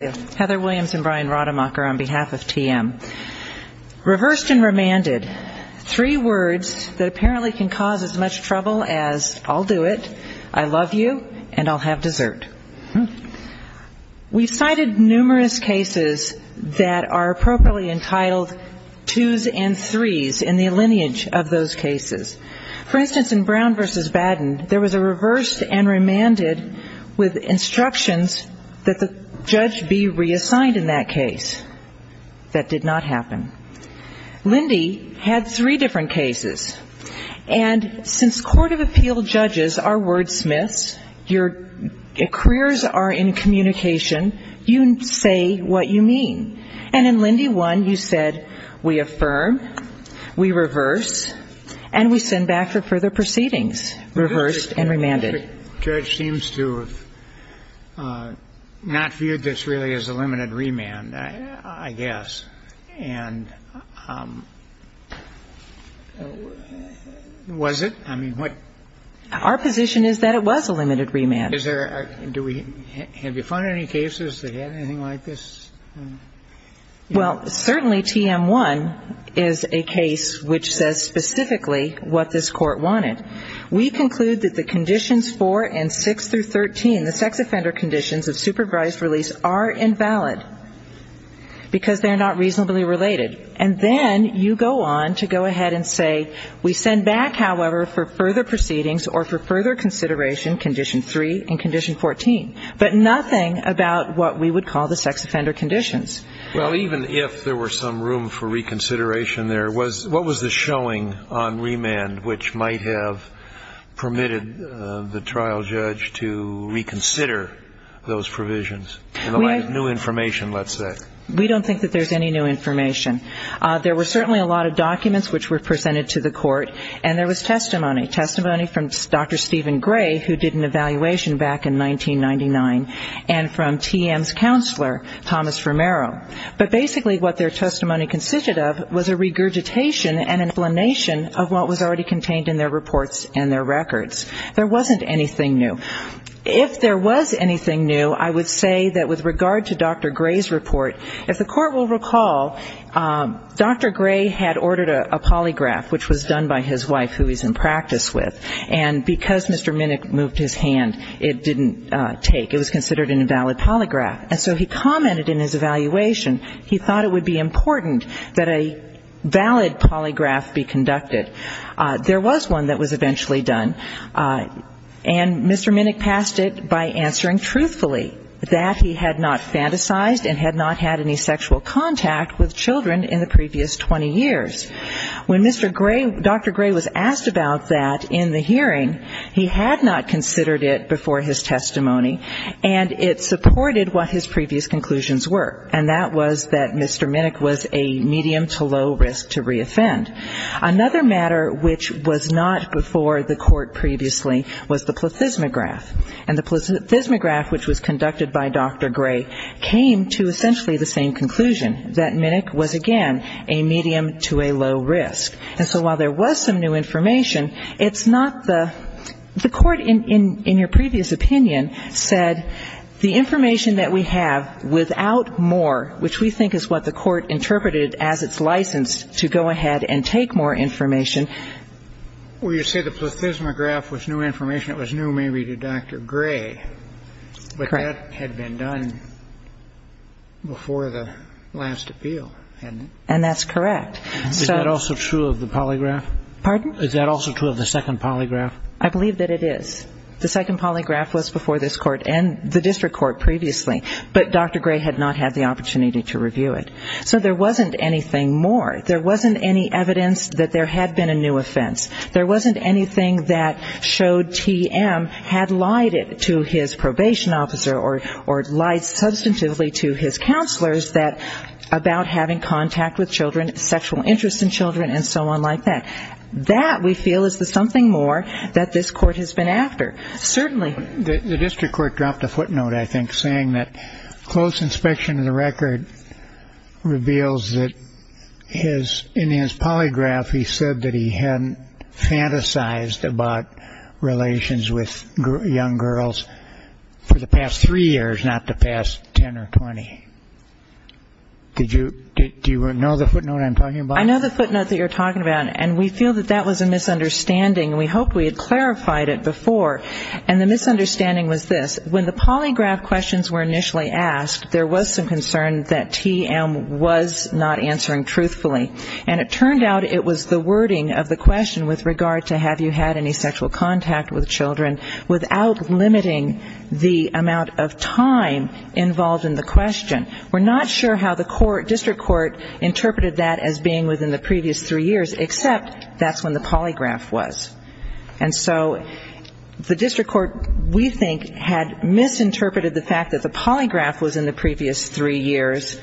Reversed and remanded, three words that apparently can cause as much trouble as I'll do it, I love you, and I'll have dessert. We've cited numerous cases that are appropriately entitled twos and threes in the lineage of those cases. For instance, in Brown v. Baden, there was a case in which a judge had to be reassigned in that case. That did not happen. Lindy had three different cases. And since court of appeal judges are wordsmiths, your careers are in communication, you say what you mean. And in Lindy 1, you said, we affirm, we reverse, and we send back for further proceedings. Reversed and remanded. The judge seems to have not viewed this really as a limited remand, I guess. And was it? I mean, what? Our position is that it was a limited remand. Is there a do we have you found any cases that had anything like this? Well, certainly T.M. 1 is a case which says specifically what this Court wanted. We conclude that the conditions 4 and 6 through 13, the sex offender conditions of supervised release, are invalid. Because they're not reasonably related. And then you go on to go ahead and say, we send back, however, for further proceedings or for further consideration condition 3 and condition 14. But nothing about what we would call the sex offender conditions. Well, even if there were some room for reconsideration there, what was the showing on remand which might have permitted the trial judge to reconsider those provisions? In the light of new information, let's say. We don't think that there's any new information. There were certainly a lot of documents which were presented to the Court. And there was testimony. Testimony from Dr. Stephen Gray, who did an evaluation back in 1999. And from T.M.'s counselor, Thomas Romero. But basically what their testimony contained in their reports and their records. There wasn't anything new. If there was anything new, I would say that with regard to Dr. Gray's report, if the Court will recall, Dr. Gray had ordered a polygraph, which was done by his wife, who he's in practice with. And because Mr. Minnick moved his hand, it didn't take. It was considered an invalid polygraph. And so he commented in his evaluation, he thought it would be important that a valid polygraph be considered. There was one that was eventually done. And Mr. Minnick passed it by answering truthfully that he had not fantasized and had not had any sexual contact with children in the previous 20 years. When Mr. Gray, Dr. Gray was asked about that in the hearing, he had not considered it before his testimony. And it supported what his previous conclusions were. And that was that Mr. Minnick was a medium to low risk to reoffend. Another matter which was not before the Court previously was the plethysmograph. And the plethysmograph which was conducted by Dr. Gray came to essentially the same conclusion, that Minnick was again a medium to a low risk. And so while there was some new information, it's not the the Court in your previous opinion said the information that we have without more, which we think is what the Court interpreted as its license to go ahead and take more information. But that had been done before the last appeal. And that's correct. Is that also true of the second polygraph? I believe that it is. The second polygraph was before this Court and the district court previously. But Dr. Gray had not had the opportunity to review it. So there wasn't anything more. There wasn't any evidence that there had been a new offense. There wasn't anything that showed TM had lied to his probation officer or lied substantively to his counselors about having contact with children, sexual interest in children and so on like that. That we feel is the something more that this Court has been after. The district court dropped a footnote I think saying that close inspection of the record reveals that in his polygraph he said that he hadn't fantasized about relations with young girls for the past three years, not the past ten or twenty. Do you know the footnote I'm talking about? I know the footnote that you're talking about. And we feel that that was a misunderstanding. We hoped we had clarified it before. And the misunderstanding was this. When the polygraph questions were initially asked, there was some concern that TM was not answering truthfully. And it turned out it was the wording of the question with regard to have you had any sexual contact with children without limiting the amount of time involved in the previous three years except that's when the polygraph was. And so the district court we think had misinterpreted the fact that the polygraph was in the previous three years,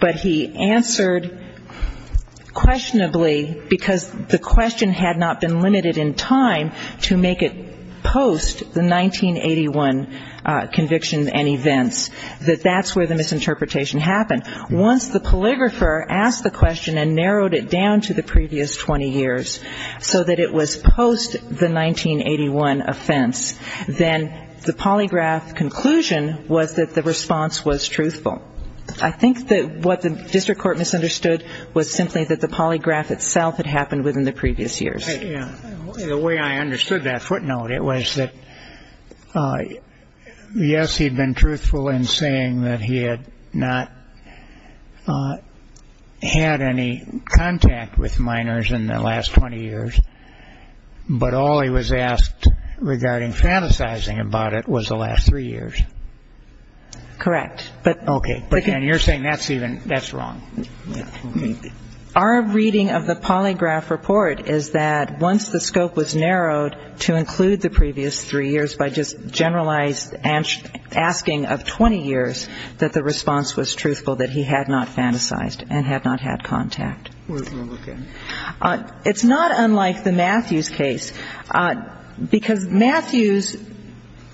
but he answered questionably because the question had not been limited in time to make it post the 1981 conviction and events, that that's where the three years and wrote it down to the previous 20 years so that it was post the 1981 offense, then the polygraph conclusion was that the response was truthful. I think that what the district court misunderstood was simply that the polygraph itself had happened within the previous years. The way I understood that footnote, it was that, yes, he'd been truthful in saying that he had not had any contact with minors in the last 20 years, but all he was asked regarding fantasizing about it was the last three years. Correct. But again, you're saying that's wrong. Our reading of the polygraph report is that once the scope was narrowed to include the previous three years by just generalized asking of 20 years, that the response was truthful, that he had not fantasized and had not had contact. It's not unlike the Matthews case, because Matthews,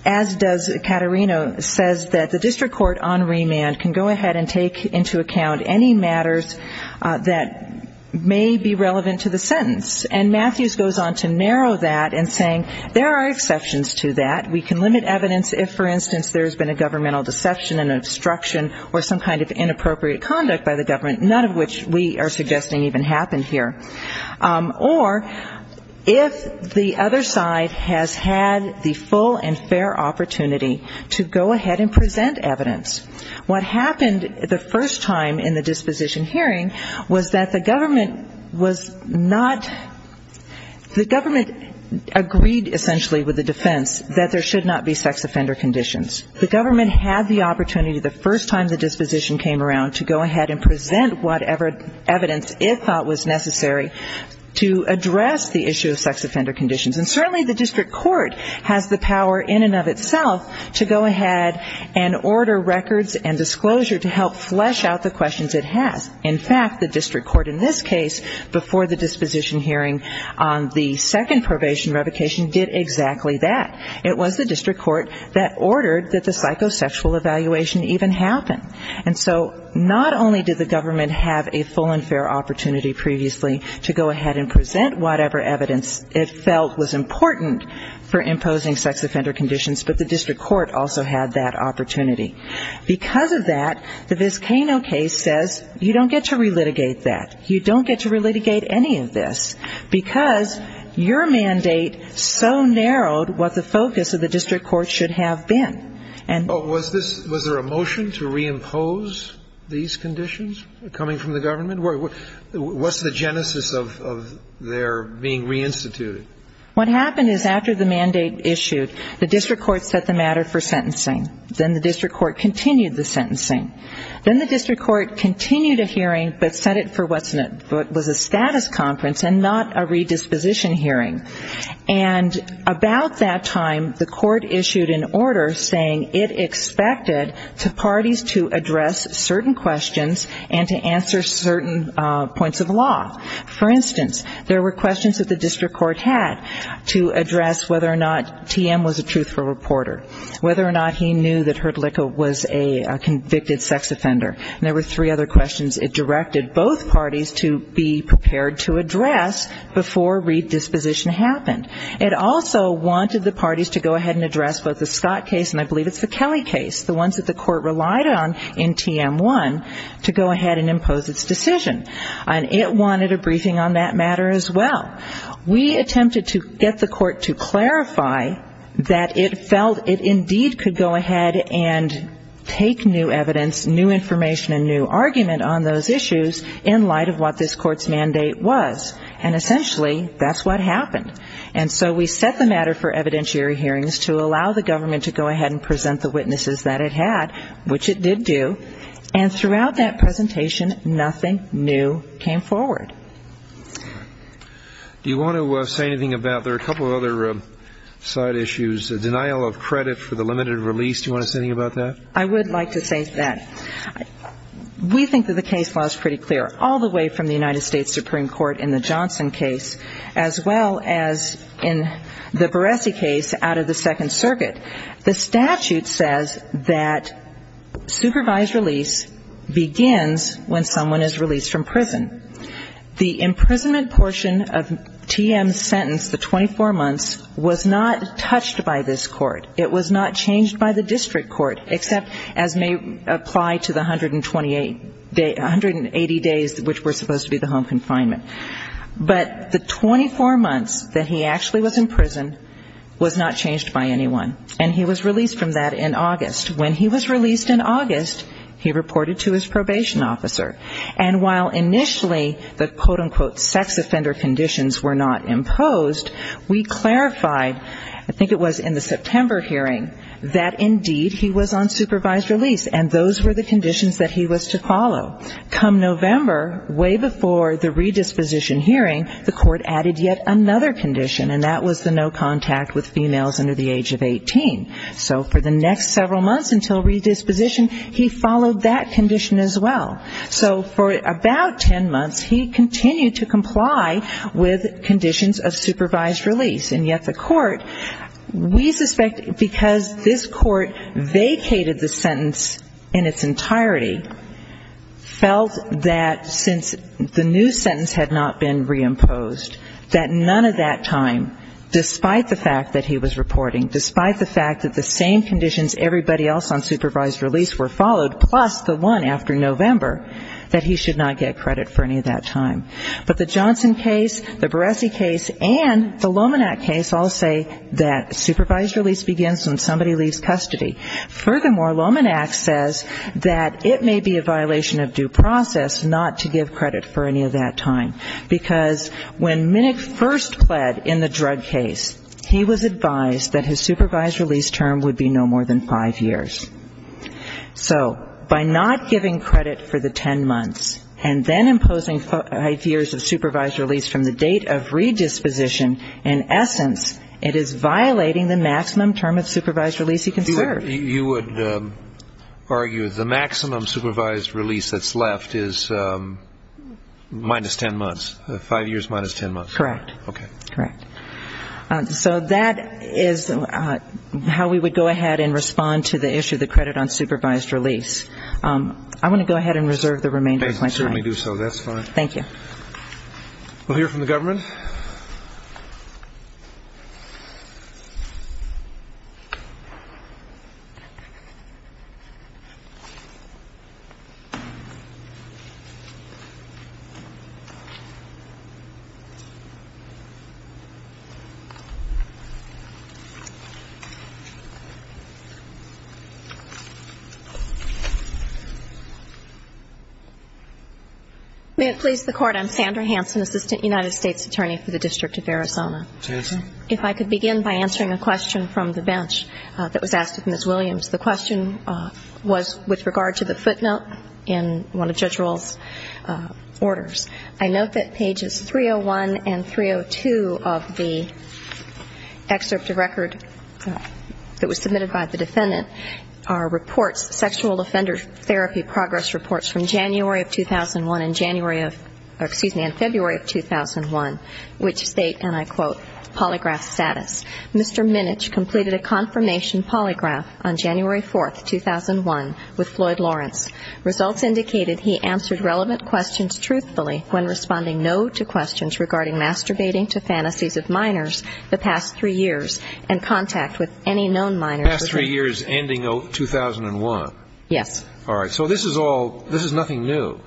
as does Caterino, says that the district court on remand can go ahead and present evidence on matters that may be relevant to the sentence. And Matthews goes on to narrow that and saying there are exceptions to that. We can limit evidence if, for instance, there's been a governmental deception and obstruction or some kind of inappropriate conduct by the government, none of which we are suggesting even happened here. Or if the other side has had the full and fair opportunity to go ahead and present evidence. What happened the first time in the disposition hearing was that the government was not the government agreed essentially with the defense that there should not be sex offender conditions. The government had the opportunity the first time the disposition came around to go ahead and present whatever evidence it thought was necessary to address the issue of sex offender conditions. And certainly the district court has the power in and of itself to go ahead and order records and disclosure to help flesh out the questions it has. In fact, the district court in this case before the disposition hearing on the second probation revocation did exactly that. It was the district court that ordered that the psychosexual evaluation even happen. And so not only did the government have a full and fair opportunity previously to go ahead and present whatever evidence it felt was important for imposing sex offender conditions, but the district court also had that opportunity. Because of that, the case, this Kano case, says you don't get to re-litigate that. You don't get to re-litigate any of this. Because your mandate so narrowed what the focus of the district court should have been. Was there a motion to reimpose these conditions coming from the government? What's the genesis of their being reinstituted? What happened is after the mandate issued, the district court set the matter for sentencing. Then the district court continued the sentencing. Then the district court continued a hearing, but set it for what was a status conference and not a redisposition hearing. And about that time, the court issued an order saying it expected to parties to address certain questions and to answer certain points of law. For instance, there were questions that the district court had to address whether or not TM was a truthful reporter, whether or not he knew that Hertlicka was a convicted sex offender. And there were three other questions it directed both parties to be prepared to address before redisposition happened. It also wanted the parties to go ahead and address both the Scott case and I believe it's the Kelly case, the ones that the court relied on in TM1, to go ahead and impose its decision. And it wanted a briefing on that matter as well. We attempted to get the court to clarify that it felt it indeed could go ahead and take new evidence, new information and new argument on those issues in light of what this court's mandate was. And essentially, that's what happened. And so we set the matter for evidentiary hearings to allow the government to go ahead and present the witnesses that it had, which it did do. And throughout that presentation, nothing new came forward. Do you want to say anything about, there are a couple of other side issues, the denial of credit for the limited release. Do you want to say anything about that? I would like to say that. We think that the case law is pretty clear, all the way from the United States Supreme Court in the Johnson case, as well as in the Baresi case out of the Second Circuit. The statute says that supervised release begins when someone is released from prison. The imprisonment portion of TM's sentence, the 24 months, was not touched by this court. It was not changed by the district court, except as may apply to the 128, 180 days which were supposed to be the home confinement. But the 24 months that he actually was in prison was not changed by anyone. And he was released from that in September. And while initially the quote-unquote sex offender conditions were not imposed, we clarified, I think it was in the September hearing, that indeed he was on supervised release. And those were the conditions that he was to follow. Come November, way before the redisposition hearing, the court added yet another condition, and that was the no contact with females under the age of 18. So for the next several months until redisposition, he followed that condition as well. So for about 10 months, he continued to comply with conditions of supervised release. And yet the court, we suspect because this court vacated the sentence in its entirety, felt that since the new sentence had not been reimposed, that none of that time, despite the fact that he was reporting, despite the fact that the same conditions everybody else on supervised release were following, that he should not get credit for any of that time. But the Johnson case, the Barresi case, and the Lomanac case all say that supervised release begins when somebody leaves custody. Furthermore, Lomanac says that it may be a violation of due process not to give credit for any of that time. Because when Minnick first pled in the drug case, he was advised that his supervised release term would be no more than five years. So by not giving credit for the 10 months, Minnick was violating the maximum term of supervised release. And then imposing five years of supervised release from the date of redisposition, in essence, it is violating the maximum term of supervised release he can serve. You would argue the maximum supervised release that's left is minus 10 months. Five years minus 10 months. Correct. Correct. So that is how we would go ahead and respond to the issue of the credit on supervised release. I want to go back to the question about the time. I certainly do so. That's fine. Thank you. We'll hear from the government. May it please the Court. I'm Sandra Hanson, Assistant United States Attorney for the District of Arizona. If I could begin by answering a question from the bench that was asked of Ms. Williams. The question was with regard to the footnote in one of Judge Rohl's orders. I note that pages 301 and 302 of the excerpt of record that was submitted by the defendant are reports, sexual offender therapy progress reports from January of 2011. And I'm going to ask Ms. Williams to read the report from January of 2001 and february of 2001. Which state, and I quote, polygraph status. Mr. Minich completed a confirmation polygraph on January 4th, 2001 with Floyd Lawrence. Results indicated he answered relevant questions truthfully when responding no to questions regarding masturbating to fantasies of minors the past three years and contact with any known minor. The past three years ending 2001. Yes. All right. So this is nothing new.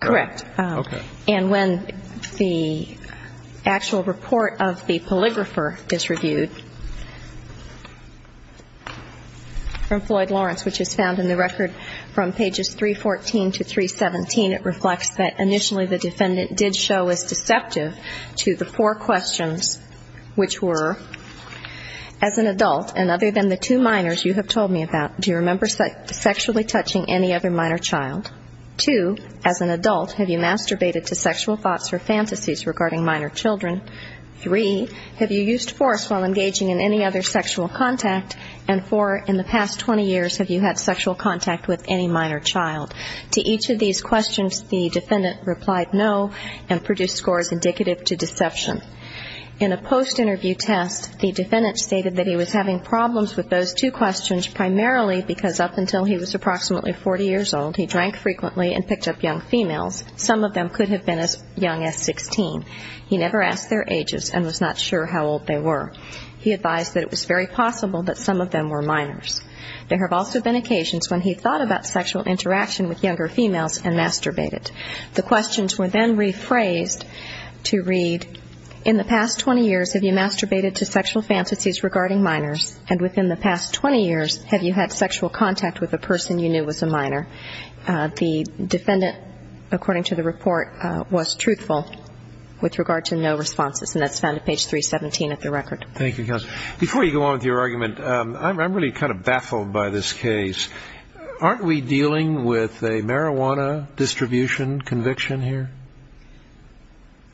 Correct. Okay. And when the actual report of the polygrapher is reviewed, from Floyd Lawrence, which is found in the record from pages 314 to 317, it reflects that initially the defendant did show as deceptive to the four questions, which were, as an adult, and other than the two minors you have told me about, do you remember sexually touching any other minor child? Two, as an adult, have you masturbated to sexual thoughts or fantasies regarding minor children? Three, have you used force while engaging in any other sexual contact? And four, in the past 20 years, have you had sexual contact with any minor child? To each of these questions, the defendant replied no and produced scores indicative to deception. In a post-interview test, the defendant stated that he was having problems with those two questions primarily because up until he was approximately 40 years old, he drank frequently and picked up young females. Some of them could have been as young as 16. He never asked their ages and was not sure how old they were. He advised that it was very possible that some of them were minors. There have also been occasions when he thought about sexual interaction with younger females and masturbated. The questions were then rephrased to read, in the past 20 years, have you masturbated to sexual fantasies regarding minors? And within the past 20 years, have you had sexual contact with a person you knew was a minor? The defendant, according to the report, was truthful with regard to no responses. And that's found at page 317 of the record. Thank you, counsel. Before you go on with your argument, I'm really kind of baffled by this case. Aren't we dealing with a marijuana distribution conviction here?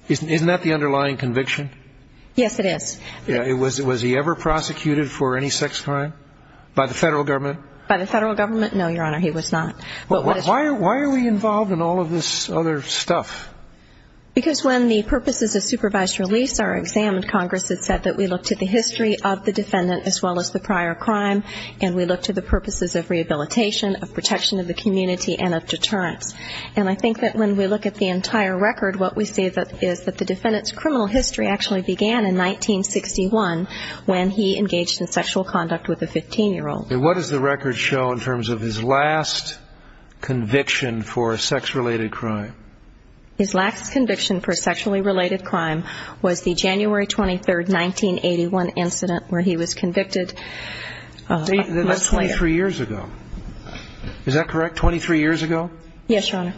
Isn't that the underlying conviction? Yes, it is. Was he ever prosecuted for any sex crime? By the federal government? By the federal government? No, Your Honor, he was not. Why are we involved in all of this other stuff? Because when the purposes of supervised release are examined, Congress has said that we look to the history of the defendant as well as the prior crime, and we look to the purposes of rehabilitation, of protection of the community, and of deterrence. And I think that when we look at the entire record, what we can say is that the defendant's criminal history actually began in 1961 when he engaged in sexual conduct with a 15-year-old. And what does the record show in terms of his last conviction for a sex-related crime? His last conviction for a sexually related crime was the January 23, 1981, incident where he was convicted. That's 23 years ago. Is that correct, 23 years ago? Yes, Your Honor.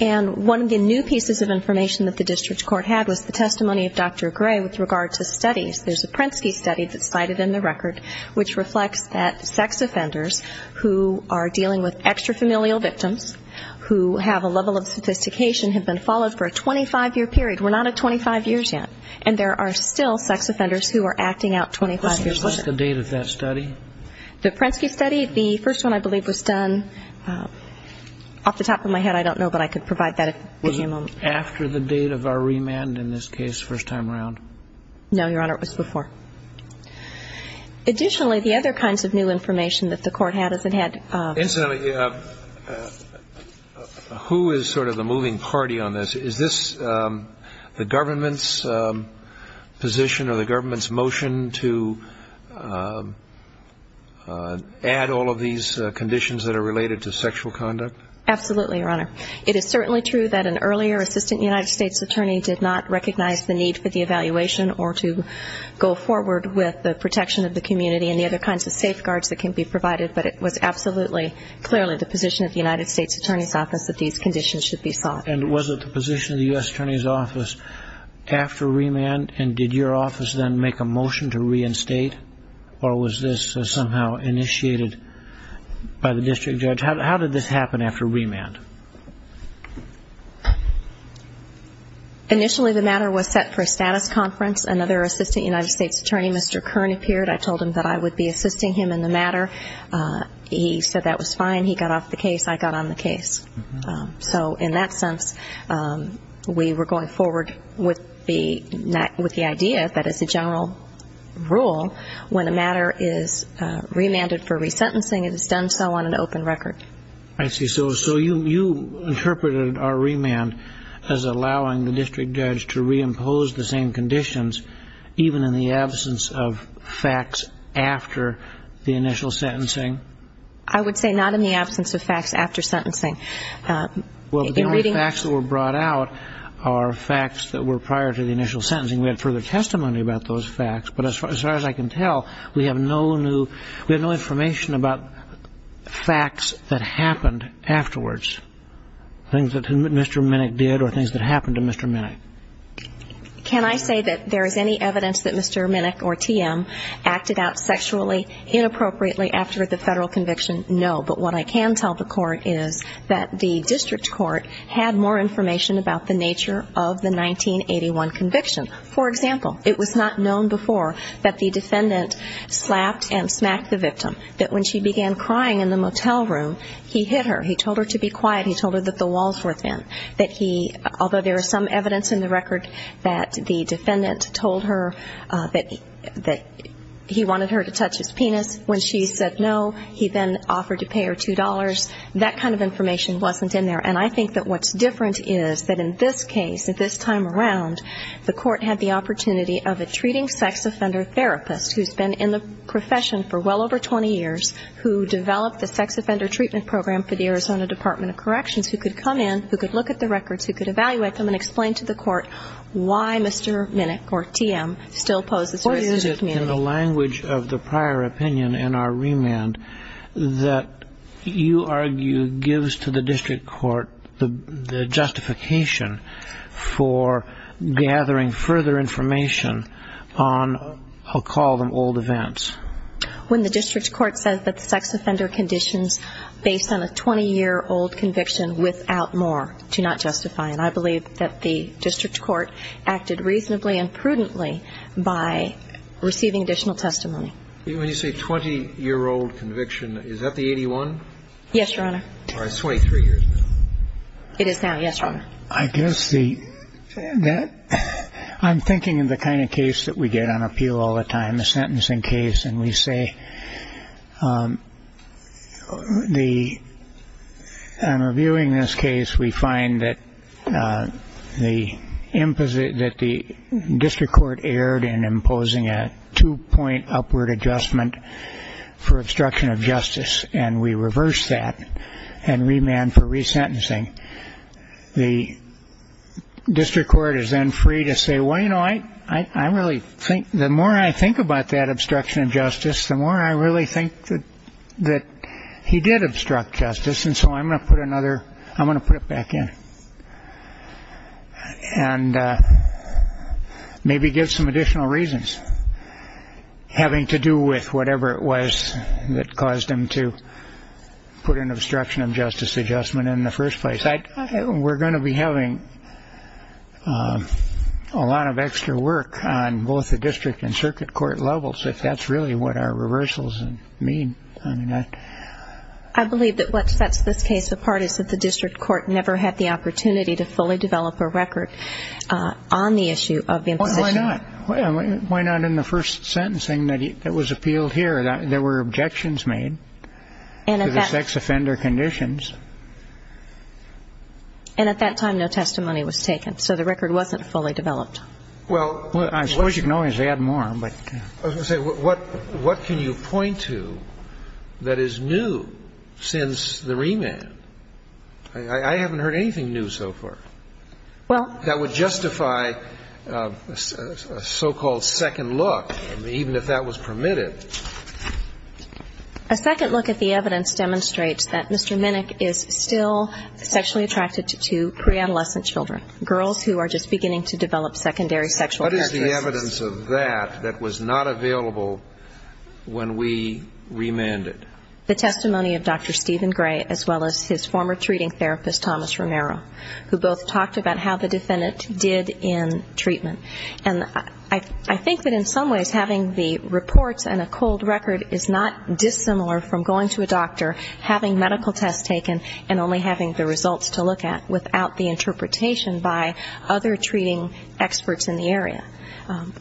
And one of the pieces of information that the district court had was the testimony of Dr. Gray with regard to studies. There's a Prensky study that's cited in the record which reflects that sex offenders who are dealing with extra-familial victims who have a level of sophistication have been followed for a 25-year period. We're not at 25 years yet. And there are still sex offenders who are acting out 25 years later. What's the date of that study? The Prensky study, the first one I believe was done in 1981. I don't know. Off the top of my head, I don't know, but I could provide that at any moment. Was it after the date of our remand in this case, first time around? No, Your Honor. It was before. Additionally, the other kinds of new information that the court had is it had the ---- Incidentally, who is sort of the moving party on this? Is this the government's position or the government's motion to add all of these conditions that are related to sexual conduct? Absolutely, Your Honor. It is certainly true that an earlier assistant United States attorney did not recognize the need for the evaluation or to go forward with the protection of the community and the other kinds of safeguards that can be provided, but it was absolutely clearly the position of the United States Attorney's Office that these conditions should be sought. And was it the position of the U.S. Attorney's Office after remand, and did your district judge decide to reinstate, or was this somehow initiated by the district judge? How did this happen after remand? Initially, the matter was set for a status conference. Another assistant United States Attorney, Mr. Kern, appeared. I told him that I would be assisting him in the matter. He said that was fine. He got off the case. I got on the case. So in that sense, we were going forward with the idea that as a general rule, when a matter is remanded for resentencing, it is done so on an open record. I see. So you interpreted our remand as allowing the district judge to reimpose the same conditions, even in the absence of facts after the initial sentencing? I would say not in the absence of facts after sentencing. Well, the only facts that are facts that were prior to the initial sentencing, we had further testimony about those facts. But as far as I can tell, we have no new information about facts that happened afterwards, things that Mr. Minnick did or things that happened to Mr. Minnick. Can I say that there is any evidence that Mr. Minnick or TM acted out sexually inappropriately after the federal conviction? No. But what I can tell the court is that the district court had more information about the nature of the 1981 conviction. For example, it was not known before that the defendant slapped and smacked the victim, that when she began crying in the motel room, he hit her. He told her to be quiet. He told her that the walls were thin, that he, although there is some evidence in the record that the defendant told her that he wanted her to touch his penis. When she said no, he then offered to pay her a $1,000 fine. He then offered to pay her $2. That kind of information wasn't in there. And I think that what's different is that in this case, at this time around, the court had the opportunity of a treating sex offender therapist who has been in the profession for well over 20 years, who developed the sex offender treatment program for the Arizona Department of Corrections, who could come in, who could look at the records, who could evaluate them and explain to the court why Mr. Minnick or TM still poses a risk to the community. In the language of the prior opinion in our remand, that you argue gives to the district court the justification for gathering further information on, I'll call them old events. When the district court says that sex offender conditions based on a 20-year-old conviction without more do not justify, and I believe that the district court is not considering a case that is a 20-year-old conviction but a 23-year-old conviction, that's not a conviction, that's not a conviction, but not a conviction, that's an additional testimony. When you say 20-year-old conviction, is that the 81? Yes, Your Honor. I'm thinking of the kind of case we get on appeal all the time, a sentencing case. And we say, on reviewing this case, we find that the district court is then free to say, well, you know, I really think, the more I think about that obstruction of justice, the more I really think that he did obstruct justice, and so I'm going to put another, I'm going to put it back in and maybe give some additional reasons, having to do with whatever it was that caused him to put an obstruction of justice adjustment in the first place. We're going to be having a lot of extra work on both the district and circuit court levels, if that's really what our reversals mean. I believe that what sets this case apart is that the district court never had the opportunity to fully develop a record on the issue of remand. Why not in the first sentencing that was appealed here, there were objections made to the sex offender conditions. And at that time, no testimony was taken, so the record wasn't fully developed. Well, I suppose you can always add more, but... I was going to say, what can you point to that is new since the remand? I haven't heard anything new so far. Well, let's take a second look, even if that was permitted. A second look at the evidence demonstrates that Mr. Minnick is still sexually attracted to pre-adolescent children, girls who are just beginning to develop secondary sexual characteristics. What is the evidence of that that was not available when we remanded? The testimony of Dr. Stephen Gray, as well as his former treating therapist, Thomas Romero, who both talked about how the defendant did in treatment. And I think that in some ways having the reports and a cold record is not dissimilar from going to a doctor, having medical tests taken, and only having the results to look at, without the interpretation by other treating experts in the area.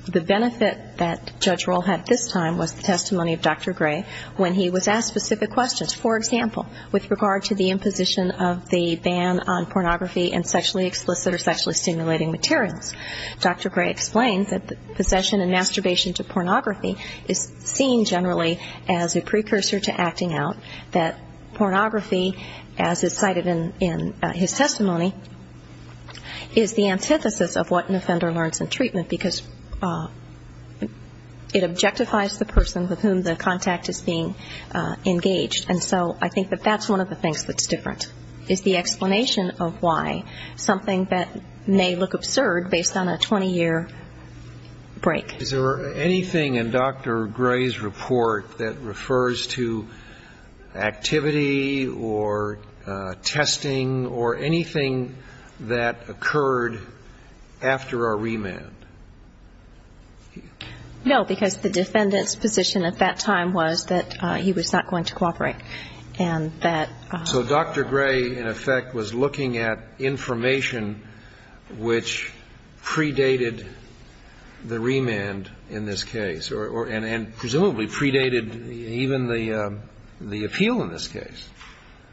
The benefit that Judge Roll had this time was the testimony of Dr. Gray when he was asked specific questions. For example, with regard to the imposition of the ban on pornography and sexually explicit or sexually stimulating materials. Dr. Gray explained that possession and masturbation to pornography is seen generally as a precursor to acting out. That pornography, as is cited in his testimony, is the antithesis of what an offender learns in treatment, because it objectifies the person with whom the contact is being engaged. And so I think that that's one of the things that's different, is the explanation of why. And I think that's something that may look absurd based on a 20-year break. Is there anything in Dr. Gray's report that refers to activity or testing or anything that occurred after a remand? No, because the defendant's position at that time was that he was not going to cooperate. And that... So Dr. Gray, in effect, was looking at information which predated the remand in this case, and presumably predated even the appeal in this case.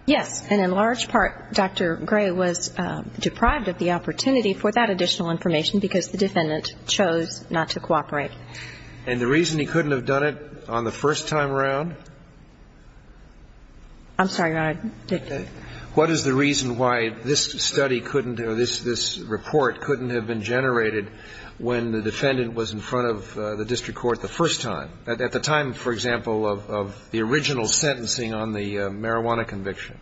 Yes, and in large part, Dr. Gray was deprived of the opportunity for that additional information, because the defendant chose not to cooperate. And the reason he couldn't have done it on the first time around? I'm sorry, Your Honor. What is the reason why this study couldn't or this report couldn't have been generated when the defendant was in front of the district court the first time, at the time, for example, of the original sentencing on the marijuana conviction?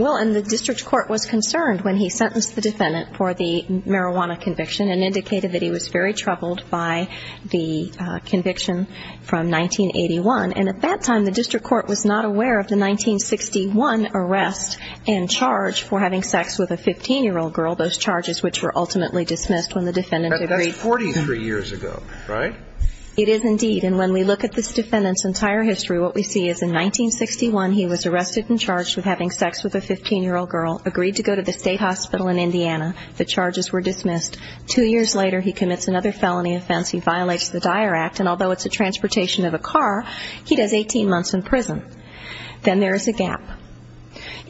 Well, and the district court was concerned when he sentenced the defendant for the marijuana conviction, and indicated that he was very troubled by the conviction from 1981. And at that time, the district court was not aware of the 1961 arrest and charge for having sex with a 15-year-old girl, those charges which were ultimately dismissed when the defendant agreed... Right? It is indeed. And when we look at this defendant's entire history, what we see is in 1961, he was arrested and charged with having sex with a 15-year-old girl, agreed to go to the state hospital in Indiana, the charges were dismissed. Two years later, he commits another felony offense. He violates the Dyer Act, and although it's a transportation of a car, he does 18 months in prison. Then there is a gap.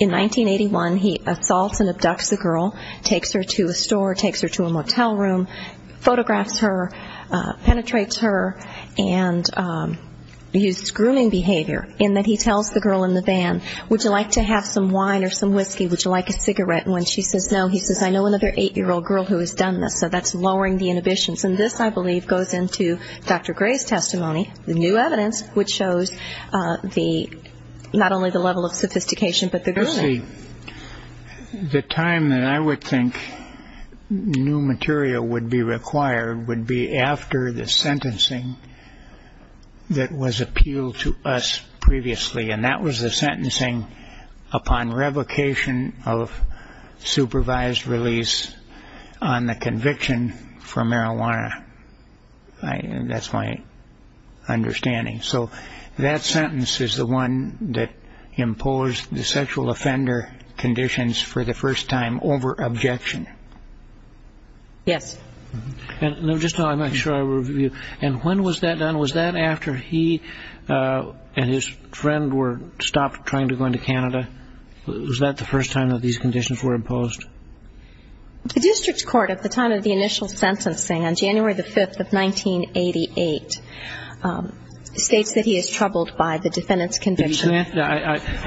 In 1981, he assaults and abducts a girl, takes her to a store, takes her to a motel room, photographs her, penetrates her, and uses grooming behavior, in that he tells the girl in the van, would you like to have some wine or some whiskey, would you like a cigarette? And when she says no, he says, I know another 8-year-old girl who has done this. So that's lowering the inhibitions. And this, I believe, goes into Dr. Gray's testimony, the new evidence, which shows not only the level of sophistication, but also the level of sophistication. The time that I would think new material would be required would be after the sentencing that was appealed to us previously, and that was the sentencing upon revocation of supervised release on the conviction for marijuana. That's my understanding. And that's the first time that the defendant has imposed the sexual offender conditions for the first time over objection? Yes. And when was that done? Was that after he and his friend were stopped trying to go into Canada? Was that the first time that these conditions were imposed? The district court, at the time of the initial sentencing on January 5, 1988, states that he is troubled by the defendant's conviction. I think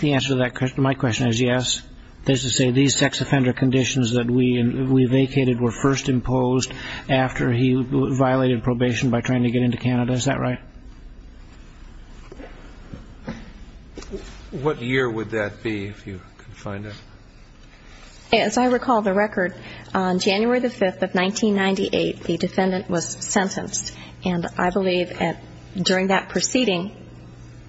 the answer to my question is yes. That is to say, these sex offender conditions that we vacated were first imposed after he violated probation by trying to get into Canada. Is that right? What year would that be, if you could find it? As I recall the record, on January 5, 1998, the defendant was sentenced. And I believe during that proceeding,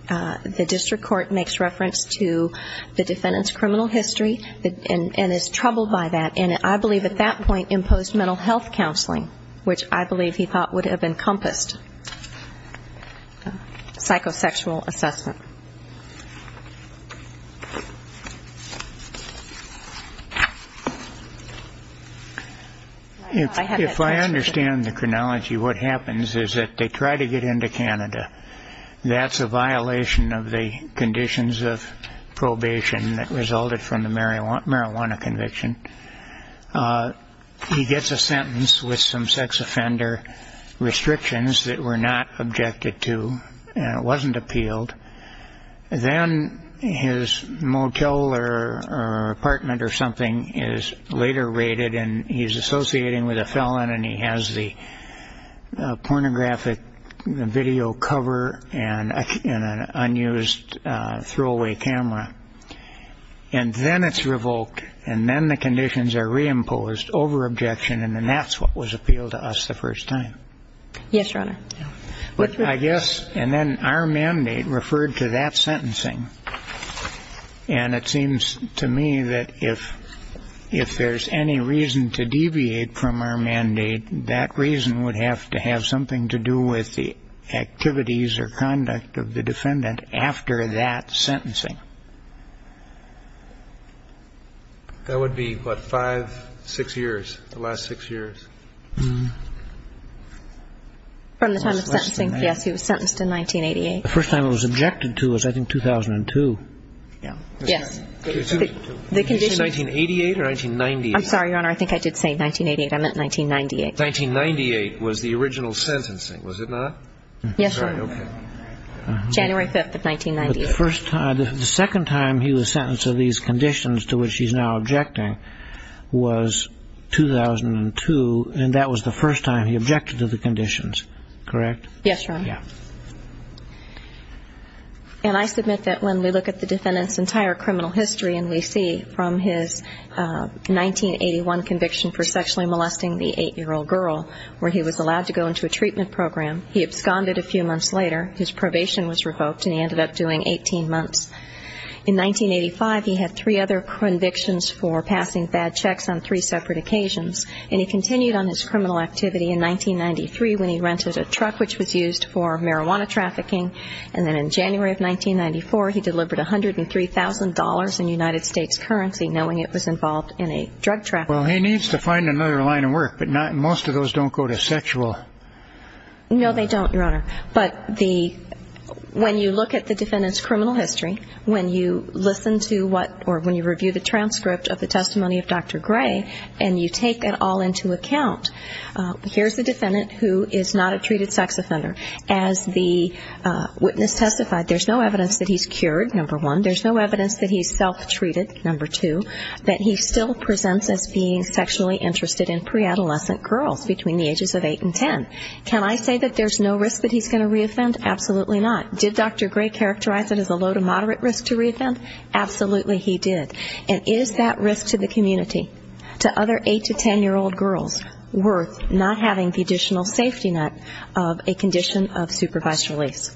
the district court ruled that the defendant was convicted. And the district court makes reference to the defendant's criminal history, and is troubled by that. And I believe at that point imposed mental health counseling, which I believe he thought would have encompassed psychosexual assessment. If I understand the chronology, what happens is that they try to get into Canada. That's a violation of the conditions of probation that resulted from the marijuana conviction. He gets a sentence with some sex offender restrictions that were not objected to, and it wasn't appealed. Then his motel or apartment or something is later raided, and he's associating with a felon, and he has the pornographic video covered. And an unused throwaway camera. And then it's revoked, and then the conditions are reimposed over objection, and then that's what was appealed to us the first time. Yes, Your Honor. I guess, and then our mandate referred to that sentencing. And it seems to me that if there's any reason to deviate from our mandate, that reason would have to have something to do with the activity of the defendant. And it would have to have something to do with the activities or conduct of the defendant after that sentencing. That would be, what, five, six years, the last six years. From the time of sentencing, yes, he was sentenced in 1988. The first time it was objected to was, I think, 2002. Yes. 1988 or 1998? I'm sorry, Your Honor, I think I did say 1988. I meant 1998. 1998 was the original sentencing, was it not? Yes, Your Honor. January 5th of 1998. The second time he was sentenced to these conditions to which he's now objecting was 2002, and that was the first time he objected to the conditions, correct? Yes, Your Honor. And I submit that when we look at the defendant's entire criminal history and we see from his 1981 conviction for sexually molesting the 8-year-old girl, where he was allowed to go into a treatment program, he absconded a few months later, his probation was revoked, and he ended up doing 18 months. In 1985, he had three other convictions for passing fad checks on three separate occasions. And he continued on his criminal activity in 1993 when he rented a truck which was used for marijuana trafficking. And then in January of 1994, he delivered $103,000 in United States currency, knowing it was involved in a drug trafficking. Well, he needs to find another line of work, but most of those don't go to sexual... No, they don't, Your Honor. But when you look at the defendant's criminal history, when you listen to what or when you review the transcript of the testimony of Dr. Gray, and you take it all into account, here's a defendant who is not a treated sex offender. As the witness testified, there's no evidence that he's cured, number one. There's no evidence that he's self-treated, number two, that he still presents as being sexually interested in pre-adolescent girls between the ages of 8 and 10. Can I say that there's no risk that he's going to re-offend? Absolutely not. Did Dr. Gray characterize it as a low to moderate risk to re-offend? Absolutely he did. And is that risk to the community, to other 8 to 10-year-old girls, worth not having the additional safety net of a condition of supervised release?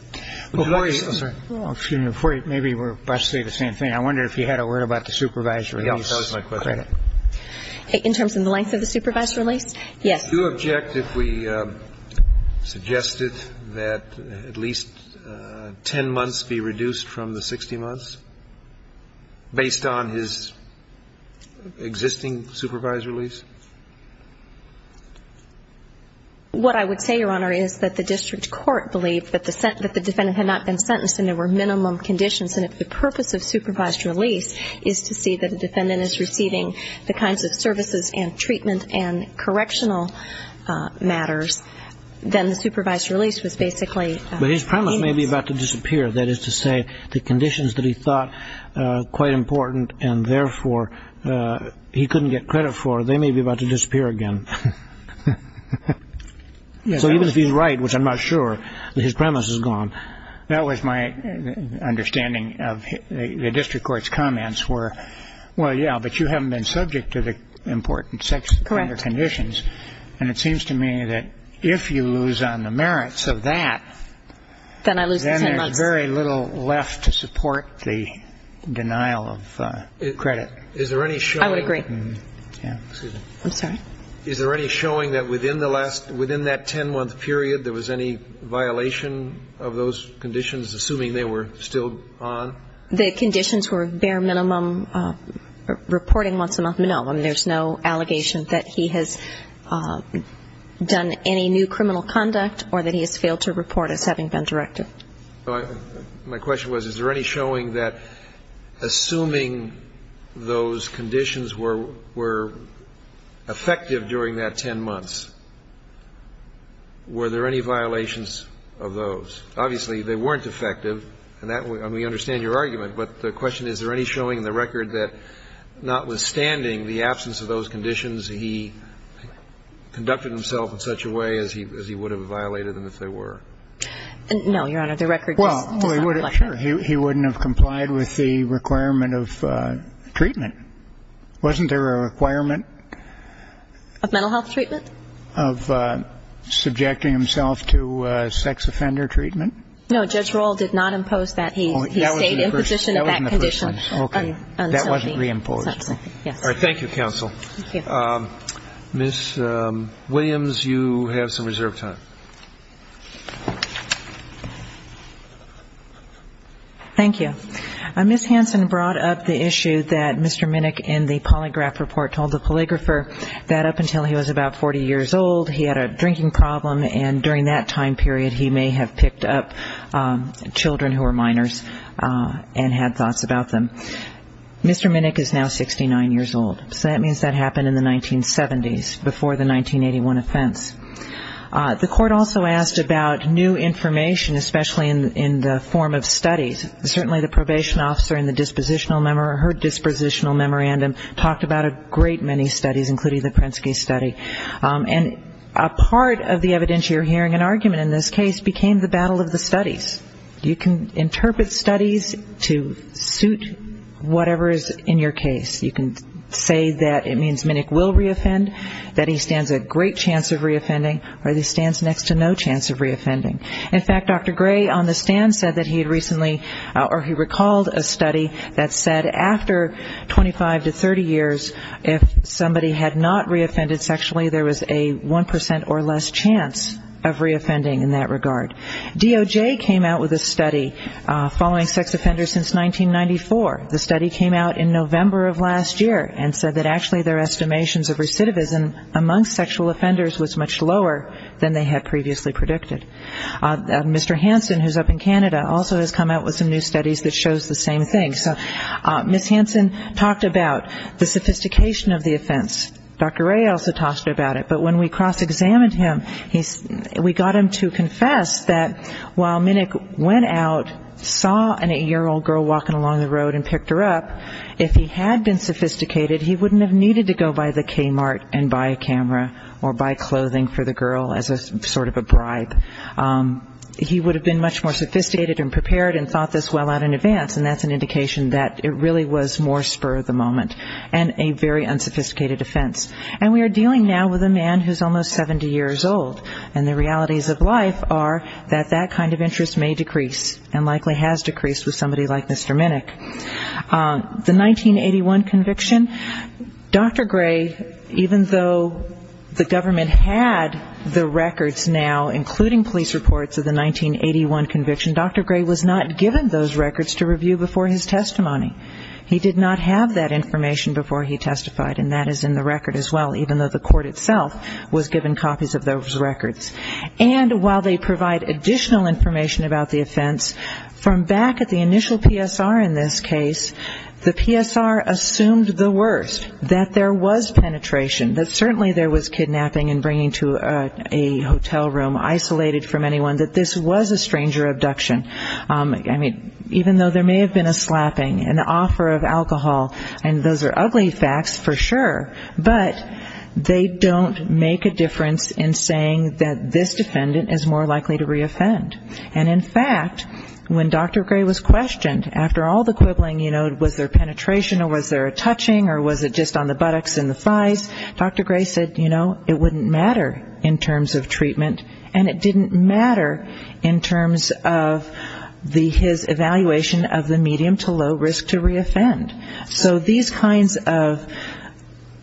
Well, before you... Excuse me. Before you... Maybe we're about to say the same thing. I wonder if you had a word about the supervised release credit. In terms of the length of the supervised release? Yes. Do you object if we suggested that at least 10 months be reduced from the 60 months, based on his existing supervised release? What I would say, Your Honor, is that the district court believed that the defendant had not been sentenced and there were minimum conditions. And if the purpose of supervised release is to see that a defendant is receiving the kinds of services and treatment and correctional matters, then the supervised release was basically... But his premise may be about to disappear. That is to say, the conditions that he thought quite important and therefore he couldn't get credit for, they may be about to disappear again. So even if he's right, which I'm not sure, his premise is gone. That was my understanding of the district court's comments were, well, yeah, but you haven't been subject to the important sex offender conditions. And it seems to me that if you lose on the merits of that... Then I lose 10 months. Then there's very little left to support the denial of credit. I would agree. Is there any showing that within that 10-month period there was any violation of those conditions, assuming they were still on? The conditions were bare minimum reporting once a month? No, there's no allegation that he has done any new criminal conduct or that he has failed to report as having been directed. My question was, is there any showing that assuming those conditions were effective during that 10 months, were there any violations of those? Obviously, they weren't effective, and we understand your argument, but the question is, is there any showing in the record that notwithstanding the absence of those conditions, he conducted himself in such a way as he would have violated them if they were? No, Your Honor, the record does not reflect that. Well, sure, he wouldn't have complied with the requirement of treatment. Wasn't there a requirement? Of mental health treatment? Of subjecting himself to sex offender treatment? No, Judge Rohl did not impose that. He stayed in position in that condition until being subjected. Thank you, counsel. Ms. Williams, you have some reserve time. Thank you. Ms. Hanson brought up the issue that Mr. Minnick in the polygraph report told the polygrapher that up until he was about 40 years old, he had a drinking problem, and during that time period, he may have picked up children who were minors and had thoughts about them. Mr. Minnick is now 69 years old. So that means that happened in the 1970s, before the 1981 offense. The court also asked about new information, especially in the form of studies. Certainly the probation officer in her dispositional memorandum talked about a great many studies, including the Prensky study. And a part of the evidence you're hearing, an argument in this case, became the battle of the studies. You can interpret studies to suit whatever is in your case. You can say that it means Minnick will reoffend, that he stands a great chance of reoffending, or that he stands next to no chance of reoffending. In fact, Dr. Gray on the stand said that he recalled a study that said after 25 to 30 years, if somebody had not reoffended sexually, there was a 1% or less chance of reoffending in that regard. DOJ came out with a study following sex offenders since 1994. The study came out in November of last year and said that actually their estimations of recidivism among sexual offenders was much lower than they had previously predicted. Mr. Hansen, who's up in Canada, also has come out with some new studies that shows the same thing. So Ms. Hansen talked about the sophistication of the offense. Dr. Gray also talked about it. But when we cross-examined him, we got him to confess that while Minnick went out, saw an 8-year-old girl walking along the road and picked her up, if he had been sophisticated, he wouldn't have needed to go by the Kmart and buy a camera or buy clothing for the girl as a sort of a bribe. He would have been much more sophisticated and prepared and thought this well out in advance, and that's an indication that it really was more spur of the moment and a very unsophisticated offense. And we are dealing now with a man who's almost 70 years old, and the realities of life are that that kind of interest may decrease and likely has decreased with somebody like Mr. Minnick. The 1981 conviction, Dr. Gray, even though the government had the records now, including police reports of the 1981 conviction, Dr. Gray was not given those records to review before his testimony. He did not have that information before he testified, and that is in the record as well, even though the court itself was given copies of those records. And while they provide additional information about the offense, from back at the initial PSR in this case, the PSR assumed the worst, that there was penetration, that certainly there was kidnapping and bringing to a hotel room, isolated from anyone, that this was a stranger abduction. I mean, even though there may have been a slapping, an offer of alcohol, and those are ugly facts for sure, but they don't make a difference in saying that this defendant is more likely to reoffend. And in fact, when Dr. Gray was questioned, after all the quibbling, you know, was there penetration or was there a touching or was it just on the buttocks and the thighs, Dr. Gray said, you know, it wouldn't matter in terms of treatment, and it didn't matter in terms of his evaluation of the medium to low risk to reoffend. So these kinds of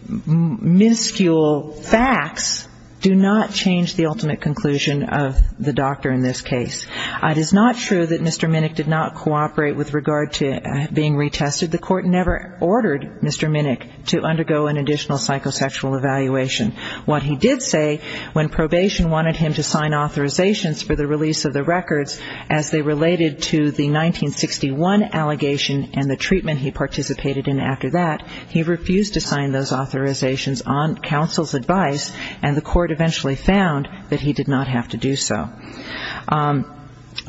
minuscule facts do not change the ultimate conclusion of the doctor in this case. It is not true that Mr. Minnick did not cooperate with regard to being retested. The court never ordered Mr. Minnick to undergo an additional psychosexual evaluation. What he did say, when probation wanted him to sign authorizations for the release of the records as they related to the 1961 allegation and the treatment he participated in after that, he refused to sign those authorizations on counsel's advice, and the court eventually found that he did not have to do so.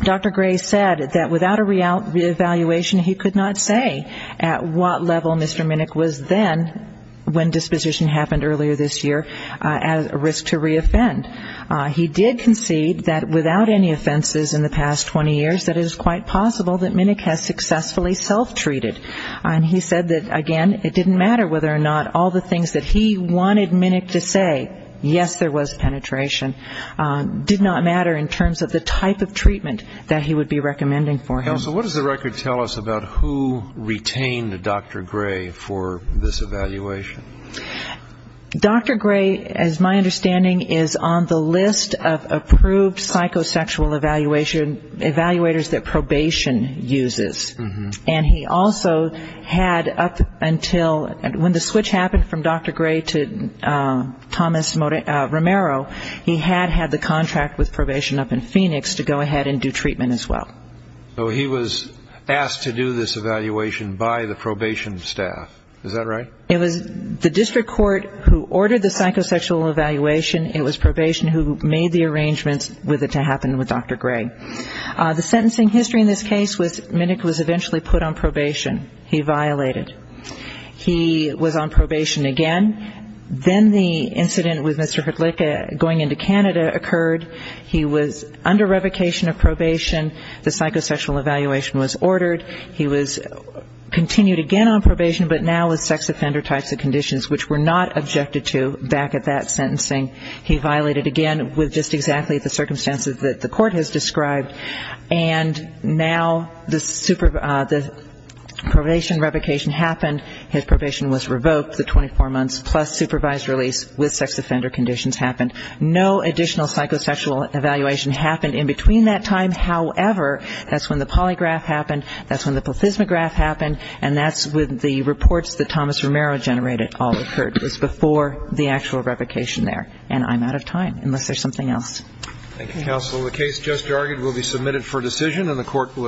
Dr. Gray said that without a reevaluation, he could not say at what level Mr. Minnick was then when disposition happened earlier this year, at risk to reoffend. He did concede that without any offenses in the past 20 years, that it is quite possible that Minnick has successfully self-treated. And he said that, again, it didn't matter whether or not all the things that he wanted Minnick to say, yes, there was penetration, did not matter in terms of the type of treatment that he would be recommending for him. Counsel, what does the record tell us about who retained Dr. Gray for this evaluation? Dr. Gray, as my understanding, is on the list of approved psychosexual evaluators that probation uses. And he also had up until when the switch happened from Dr. Gray to Thomas Romero, he had had the contract with probation up in Phoenix to go ahead and do treatment as well. So he was asked to do this evaluation by the probation staff. Is that right? It was the district court who ordered the psychosexual evaluation. It was probation who made the arrangements with it to happen with Dr. Gray. The sentencing history in this case was Minnick was eventually put on probation. He violated. He was on probation again. Then the incident with Mr. Hrdlicka going into Canada occurred. He was under revocation of probation. The psychosexual evaluation was ordered. He was continued again on probation, but now with sex offender types of conditions, which were not objected to back at that sentencing. He violated again with just exactly the circumstances that the court has described. And now the probation revocation happened. His probation was revoked. The 24 months plus supervised release with sex offender conditions happened. No additional psychosexual evaluation happened in between that time. However, that's when the polygraph happened. That's when the plethysmograph happened. And that's with the reports that Thomas Romero generated all occurred. It was before the actual revocation there. And I'm out of time, unless there's something else. Thank you, counsel. The case just argued will be submitted for decision and the court will adjourn.